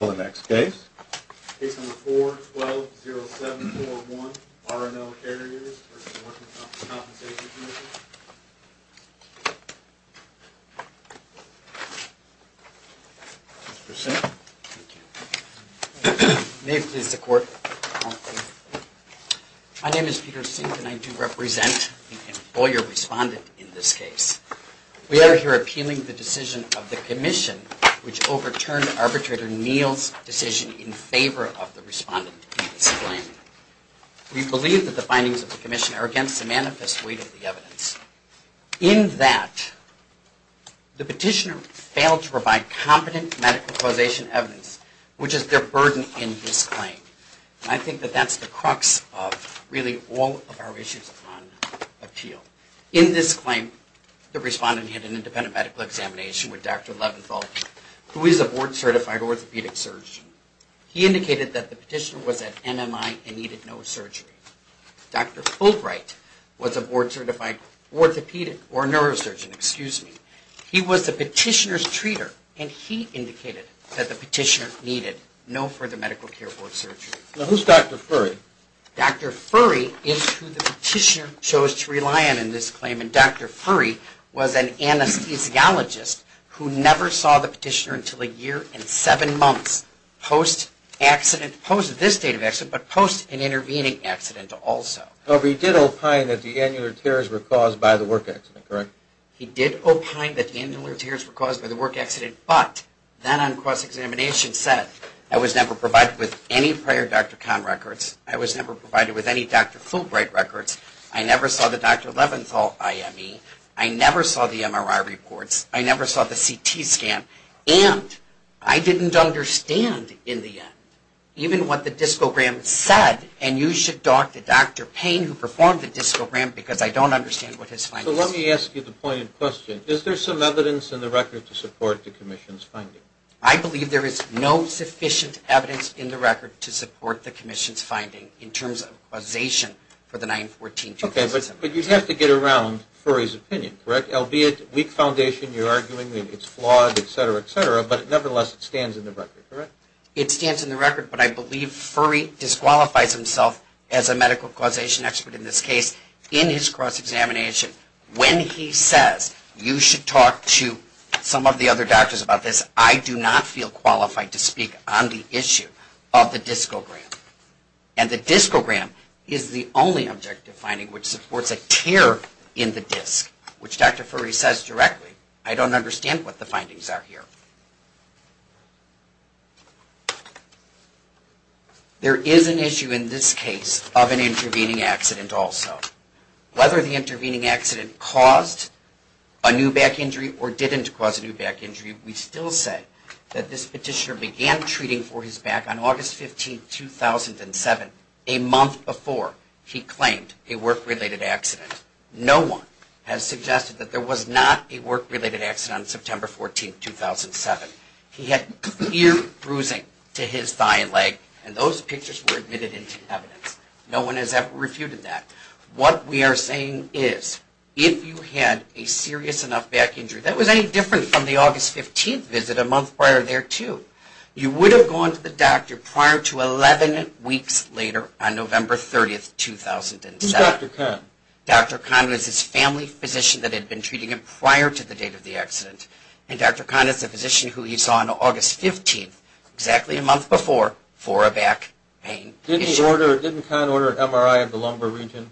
My name is Peter Sink and I do represent the employer respondent in this case. We are here appealing the decision of the Commission which overturned Arbitrator Neal's decision in favor of the respondent's claim. We believe that the findings of the Commission are against the manifest weight of the evidence. In that, the petitioner failed to provide competent medical causation evidence, which is their burden in this claim. I think that that's the crux of really all of our issues on appeal. In this claim, the respondent had an independent medical examination with Dr. Leventhal, who is a board-certified orthopedic surgeon. He indicated that the petitioner was at NMI and needed no surgery. Dr. Fulbright was a board-certified orthopedic or neurosurgeon, excuse me. He was the petitioner's treater and he indicated that the petitioner needed no further medical care or surgery. Now, who's Dr. Furry? Dr. Furry is who the petitioner chose to rely on in this claim and Dr. Furry was an anesthesiologist who never saw the petitioner until a year and seven months post-accident, post this date of accident, but post an intervening accident also. However, he did opine that the annular tears were caused by the work accident, correct? He did opine that the annular tears were caused by the work accident, but then on cross-examination said, I was never provided with any prior Dr. Kahn records, I was never provided with any Dr. Fulbright records, I never saw the Dr. Leventhal IME, I never saw the MRI reports, I never saw the CT scan, and I didn't understand in the end even what the discogram said and you should talk to Dr. Payne who performed the discogram because I don't understand what his claim is. So let me ask you the pointed question. Is there some evidence in the record to support the commission's finding? I believe there is no sufficient evidence in the record to support the commission's finding in terms of causation for the 9-14-2007. Okay, but you'd have to get around Furry's opinion, correct? Albeit weak foundation, you're arguing that it's flawed, etc., etc., but nevertheless it stands in the record, correct? It stands in the record, but I believe Furry disqualifies himself as a medical causation expert in this case in his cross-examination when he says you should talk to some of the other doctors about this. I do not feel qualified to speak on the issue of the discogram. And the discogram is the only objective finding which supports a tear in the disc, which Dr. Furry says directly, I don't understand what the findings are here. There is an issue in this case of an intervening accident also. Whether the intervening accident caused a new back injury or didn't cause a new back injury, we still say that this petitioner began treating for his back on August 15, 2007, a month before he claimed a work-related accident. No one has suggested that there was not a work-related accident on September 14, 2007. He had clear bruising to his thigh and leg, and those pictures were admitted into evidence. No one has ever refuted that. What we are saying is if you had a serious enough back injury, that was any different from the August 15 visit a month prior there too, you would have gone to the doctor prior to 11 weeks later on November 30, 2007. Who's Dr. Kahn? Dr. Kahn was his family physician that had been treating him prior to the date of the accident, and Dr. Kahn is a physician who he saw on August 15, exactly a month before, for a back pain issue. Didn't Kahn order an MRI of the lumbar region?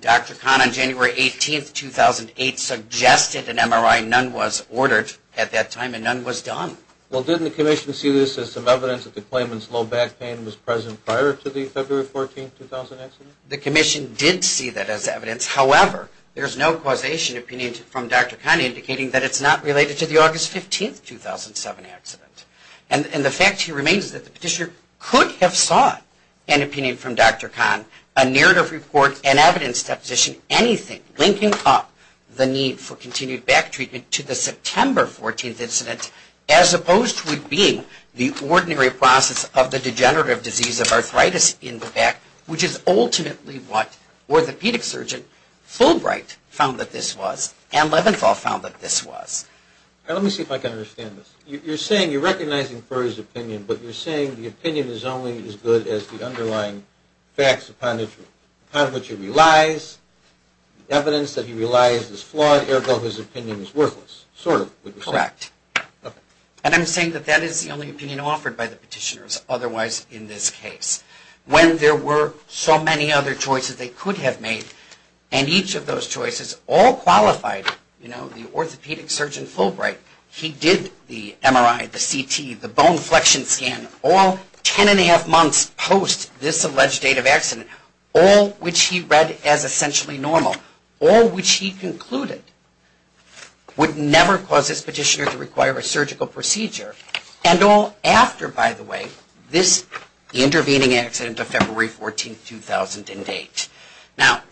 Dr. Kahn on January 18, 2008, suggested an MRI. None was ordered at that time, and none was done. Well, didn't the commission see this as some evidence that the claimant's low back pain was present prior to the February 14, 2000 accident? The commission did see that as evidence. However, there's no causation opinion from Dr. Kahn indicating that it's not related to the August 15, 2007 accident. And the fact here remains that the petitioner could have sought an opinion from Dr. Kahn, a narrative report, an evidence deposition, anything linking up the need for continued back treatment to the September 14 incident, as opposed to it being the ordinary process of the degenerative disease of arthritis in the back, which is ultimately what orthopedic surgeon Fulbright found that this was, and Leventhal found that this was. Let me see if I can understand this. You're saying, you're recognizing Furr's opinion, but you're saying the opinion is only as good as the underlying facts upon which it relies, evidence that he relies is flawed, ergo his opinion is worthless, sort of would you say? Correct. And I'm saying that that is the only opinion offered by the petitioners otherwise in this case. When there were so many other choices they could have made, and each of those choices all qualified, you know, the orthopedic surgeon Fulbright, he did the MRI, the CT, the bone flexion scan, all ten and a half months post this alleged date of accident, all which he read as essentially normal, all which he concluded would never cause this petitioner to require a surgical procedure, and all after, by the way, this intervening accident of February 14, 2008. Now,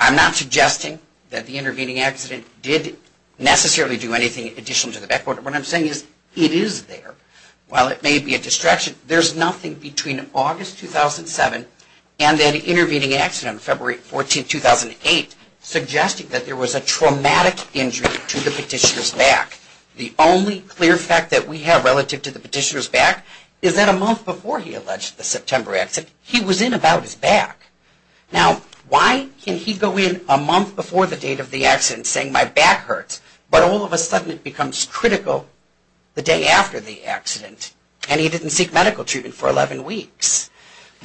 I'm not suggesting that the intervening accident did necessarily do anything additional to the back. What I'm saying is it is there. While it may be a distraction, there's nothing between August 2007 and that intervening accident of February 14, 2008, suggesting that there was a traumatic injury to the petitioner's back. The only clear fact that we have relative to the petitioner's back is that a month before he alleged the September accident, he was in about his back. Now, why can he go in a month before the date of the accident saying my back hurts, but all of a sudden it becomes critical the day after the accident, and he didn't seek medical treatment for 11 weeks?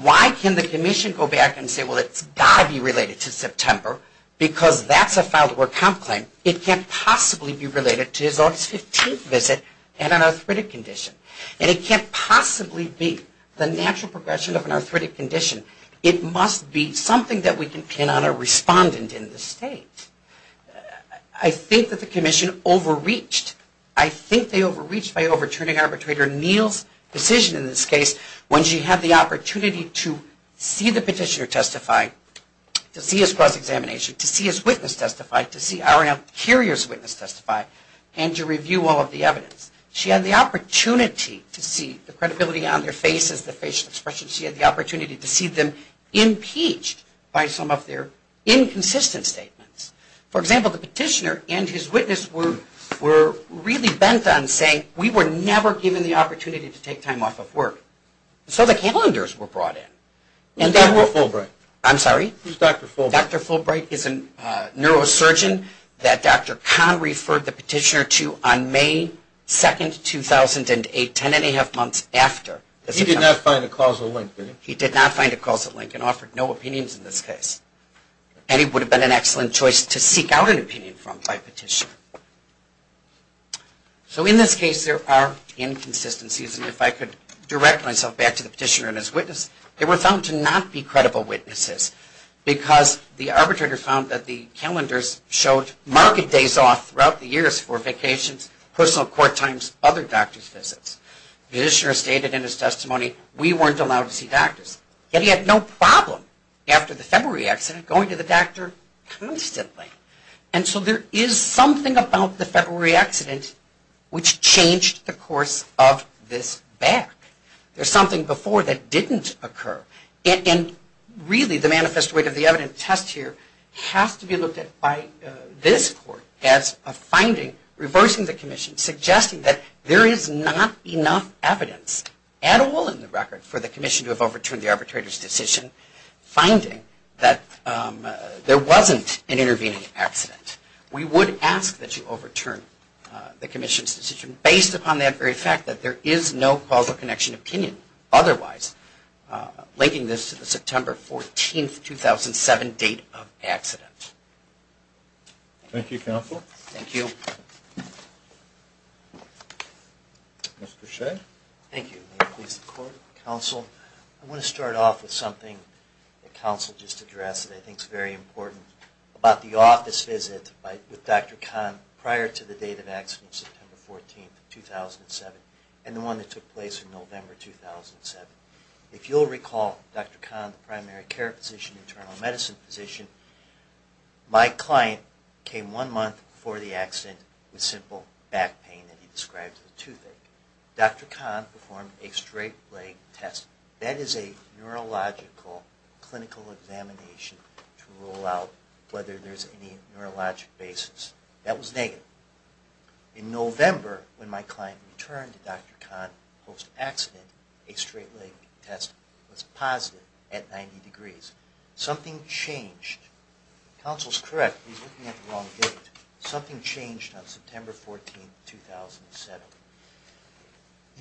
Why can the commission go back and say, well, it's got to be related to September, because that's a filed-to-work comp claim. It can't possibly be related to his August 15 visit and an arthritic condition. And it can't possibly be the natural progression of an arthritic condition. It must be something that we can pin on a respondent in the state. I think that the commission overreached. I think they overreached by overturning arbitrator Neal's decision in this case when she had the opportunity to see the petitioner testify, to see his cross-examination, to see his witness testify, to see our courier's witness testify, and to review all of the evidence. She had the opportunity to see the credibility on their faces, the facial expressions. She had the opportunity to see them impeached by some of their inconsistent statements. For example, the petitioner and his witness were really bent on saying, we were never given the opportunity to take time off of work. So the calendars were brought in. Who's Dr. Fulbright? I'm sorry? Who's Dr. Fulbright? Dr. Fulbright is a neurosurgeon that Dr. Kahn referred the petitioner to on May 2, 2008, ten and a half months after. He did not find a causal link, did he? He did not find a causal link and offered no opinions in this case. And he would have been an excellent choice to seek out an opinion from by petitioner. So in this case, there are inconsistencies. And if I could direct myself back to the petitioner and his witness, they were found to not be credible witnesses because the arbitrator found that the calendars showed marked days off throughout the years for vacations, personal court times, other doctors' visits. The petitioner stated in his testimony, we weren't allowed to see doctors. Yet he had no problem after the February accident going to the doctor constantly. And so there is something about the February accident which changed the course of this back. There's something before that didn't occur. And really, the manifest weight of the evidence test here has to be looked at by this court as a finding reversing the commission, suggesting that there is not enough evidence at all in the record for the commission to have overturned the arbitrator's decision, finding that there wasn't an intervening accident. We would ask that you overturn the commission's decision based upon that very fact, that there is no causal connection opinion otherwise, linking this to the September 14, 2007, date of accident. Thank you, counsel. Thank you. Mr. Shea. Thank you. May it please the court. Counsel, I want to start off with something that counsel just addressed that I think is very important about the office visit with Dr. Kahn prior to the date of accident, September 14, 2007, and the one that took place in November, 2007. If you'll recall, Dr. Kahn, the primary care physician, internal medicine physician, my client came one month before the accident with simple back pain that he described as a toothache. Dr. Kahn performed a straight leg test. That is a neurological clinical examination to rule out whether there's any neurologic basis. That was negative. In November, when my client returned to Dr. Kahn post-accident, a straight leg test was positive at 90 degrees. Something changed. Counsel's correct. He's looking at the wrong date. Something changed on September 14, 2007.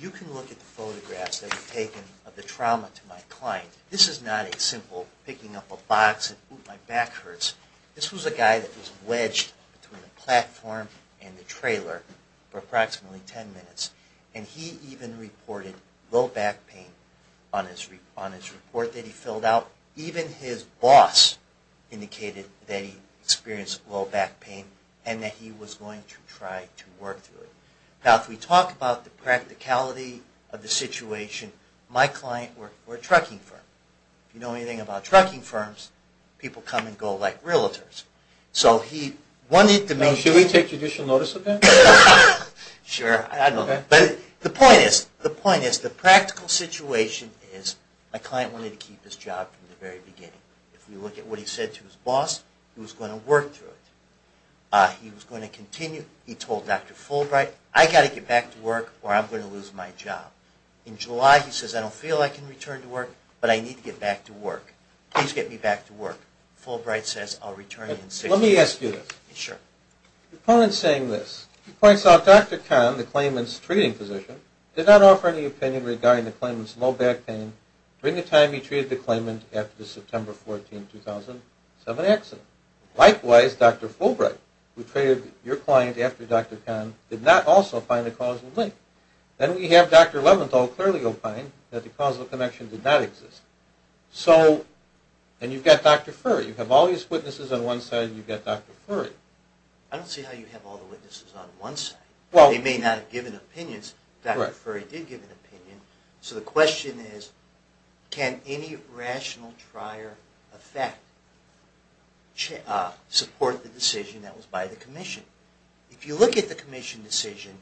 You can look at the photographs that were taken of the trauma to my client. This is not a simple picking up a box and, ooh, my back hurts. This was a guy that was wedged between the platform and the trailer for approximately 10 minutes. And he even reported low back pain on his report that he filled out. Even his boss indicated that he experienced low back pain and that he was going to try to work through it. Now, if we talk about the practicality of the situation, my client worked for a trucking firm. If you know anything about trucking firms, people come and go like realtors. Now, should we take judicial notice of that? Sure. I don't know. But the point is, the practical situation is my client wanted to keep his job from the very beginning. If we look at what he said to his boss, he was going to work through it. He was going to continue. He told Dr. Fulbright, I've got to get back to work or I'm going to lose my job. In July, he says, I don't feel I can return to work, but I need to get back to work. Please get me back to work. Fulbright says, I'll return in six weeks. Let me ask you this. Sure. The opponent is saying this. He points out Dr. Kahn, the claimant's treating physician, did not offer any opinion regarding the claimant's low back pain during the time he treated the claimant after the September 14, 2007 accident. Likewise, Dr. Fulbright, who treated your client after Dr. Kahn, did not also find a causal link. Then we have Dr. Leventhal clearly opine that the causal connection did not exist. And you've got Dr. Furry. You have all these witnesses on one side and you've got Dr. Furry. I don't see how you have all the witnesses on one side. They may not have given opinions. Dr. Furry did give an opinion. So the question is, can any rational trier effect support the decision that was by the commission? If you look at the commission decision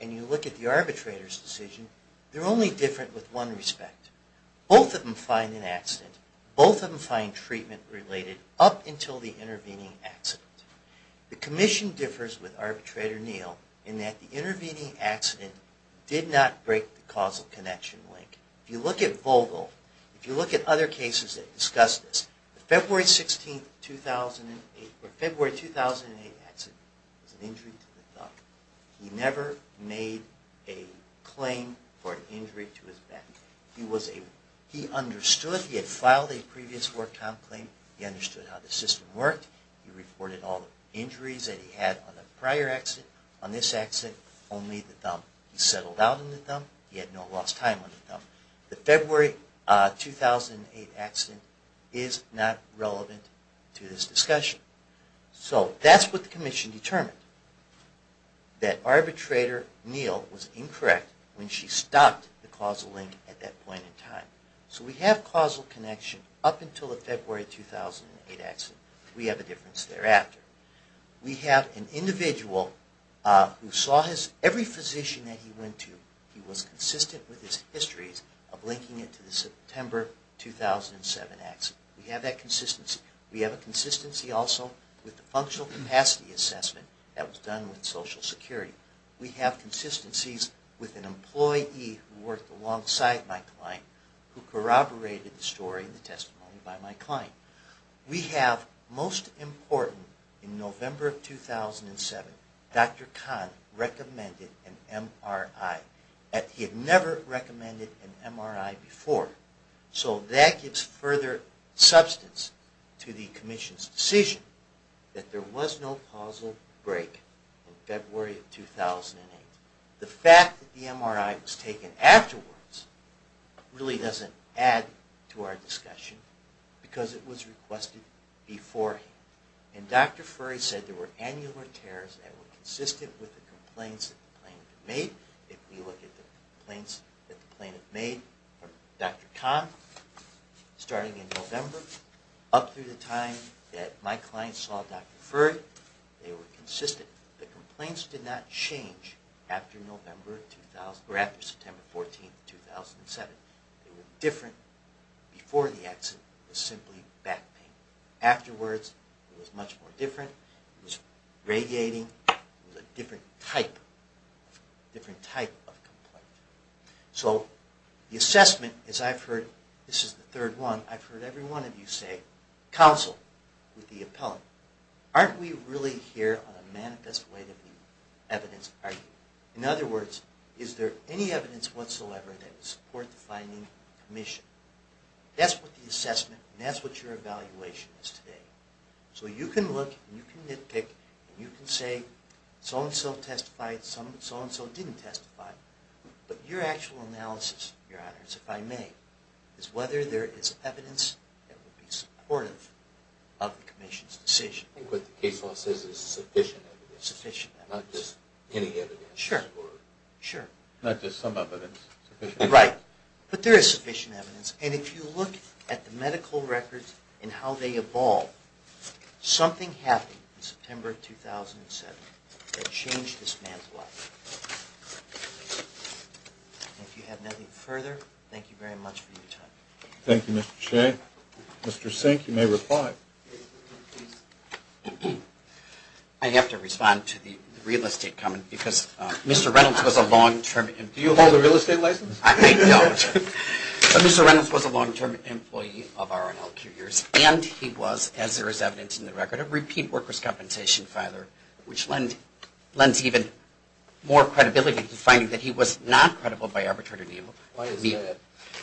and you look at the arbitrator's decision, they're only different with one respect. Both of them find an accident. Both of them find treatment related up until the intervening accident. The commission differs with arbitrator Neal in that the intervening accident did not break the causal connection link. If you look at Vogel, if you look at other cases that discuss this, the February 16, 2008 accident was an injury to the thumb. He never made a claim for an injury to his back. He understood. He had filed a previous work time claim. He understood how the system worked. He reported all the injuries that he had on the prior accident. On this accident, only the thumb. He settled down on the thumb. He had no lost time on the thumb. The February 2008 accident is not relevant to this discussion. So that's what the commission determined, that arbitrator Neal was incorrect when she stopped the causal link at that point in time. So we have causal connection up until the February 2008 accident. We have a difference thereafter. We have an individual who saw every physician that he went to, he was consistent with his histories of linking it to the September 2007 accident. We have that consistency. We have a consistency also with the functional capacity assessment that was done with Social Security. We have consistencies with an employee who worked alongside my client who corroborated the story and the testimony by my client. We have, most important, in November 2007, Dr. Kahn recommended an MRI. He had never recommended an MRI before. So that gives further substance to the commission's decision that there was no causal break in February 2008. The fact that the MRI was taken afterwards really doesn't add to our discussion, because it was requested beforehand. And Dr. Furry said there were annular tears that were consistent with the complaints that the plaintiff made. If we look at the complaints that the plaintiff made from Dr. Kahn, starting in November, up through the time that my client saw Dr. Furry, they were consistent. The complaints did not change after September 14, 2007. They were different before the accident. It was simply back pain. Afterwards, it was much more different. It was radiating. It was a different type of complaint. So the assessment, as I've heard, this is the third one, I've heard every one of you say, counsel, with the appellant, aren't we really here on a manifest way to be evidence? In other words, is there any evidence whatsoever that would support the finding of the commission? That's what the assessment and that's what your evaluation is today. So you can look and you can nitpick and you can say so-and-so testified, so-and-so didn't testify. But your actual analysis, your honors, if I may, is whether there is evidence that would be supportive of the commission's decision. I think what the case law says is sufficient evidence. Not just any evidence. Sure. Not just some evidence. Right. But there is sufficient evidence. And if you look at the medical records and how they evolve, something happened in September 2007 that changed this man's life. And if you have nothing further, thank you very much for your time. Thank you, Mr. Shea. Mr. Sink, you may reply. I have to respond to the real estate comment because Mr. Reynolds was a long-term... Do you hold a real estate license? I don't. But Mr. Reynolds was a long-term employee of our NLQ years and he was, as there is evidence in the record, a repeat workers' compensation filer, which lends even more credibility to finding that he was not credible by arbitrary means. Why is that?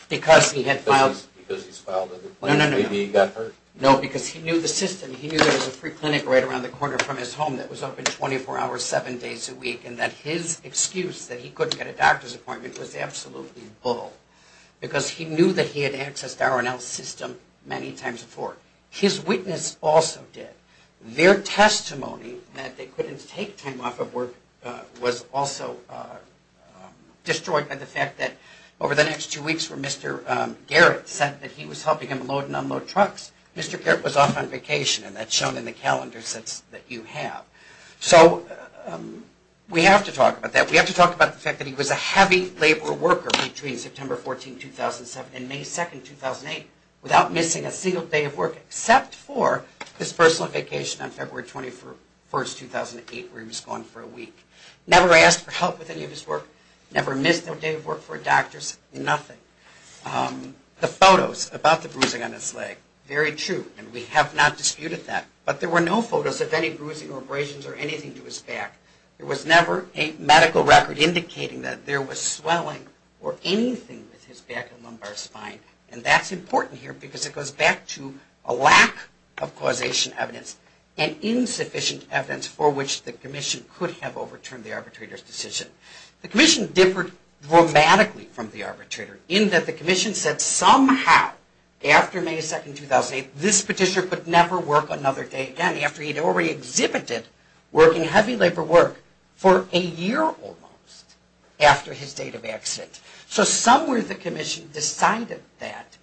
Because he had filed... Because he's filed a complaint? No, no, no. Maybe he got hurt? No, because he knew the system. He knew there was a free clinic right around the corner from his home that was open 24 hours, 7 days a week, and that his excuse that he couldn't get a doctor's appointment was absolutely bull. Because he knew that he had accessed our NLQ system many times before. His witness also did. Their testimony that they couldn't take time off of work was also destroyed by the fact that over the next two weeks when Mr. Garrett said that he was helping him load and unload trucks, Mr. Garrett was off on vacation. And that's shown in the calendar sets that you have. So we have to talk about that. We have to talk about the fact that he was a heavy labor worker between September 14, 2007 and May 2, 2008 without missing a single day of work except for his personal vacation on February 21, 2008 where he was gone for a week. Never asked for help with any of his work, never missed a day of work for a doctor's, nothing. The photos about the bruising on his leg, very true, and we have not disputed that. But there were no photos of any bruising or abrasions or anything to his back. There was never a medical record indicating that there was swelling or anything with his back and lumbar spine. And that's important here because it goes back to a lack of causation evidence and insufficient evidence for which the commission could have overturned the arbitrator's decision. The commission differed dramatically from the arbitrator in that the commission said somehow after May 2, 2008, this petitioner could never work another day again after he had already exhibited working heavy labor work for a year almost after his date of exit. So somewhere the commission decided that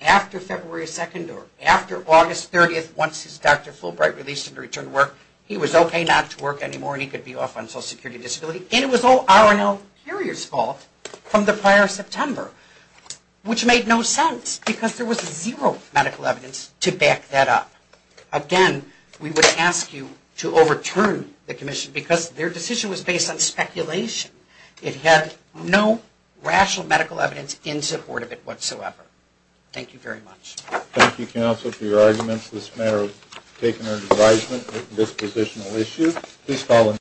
after February 2 or after August 30, once Dr. Fulbright released him to return to work, he was okay not to work anymore and he could be off on social security disability. And it was all R&L Carrier's fault from the prior September, which made no sense because there was zero medical evidence to back that up. Again, we would ask you to overturn the commission because their decision was based on speculation. It had no rational medical evidence in support of it whatsoever. Thank you very much. Thank you, counsel, for your arguments in this matter of taking an advisement on this positional issue.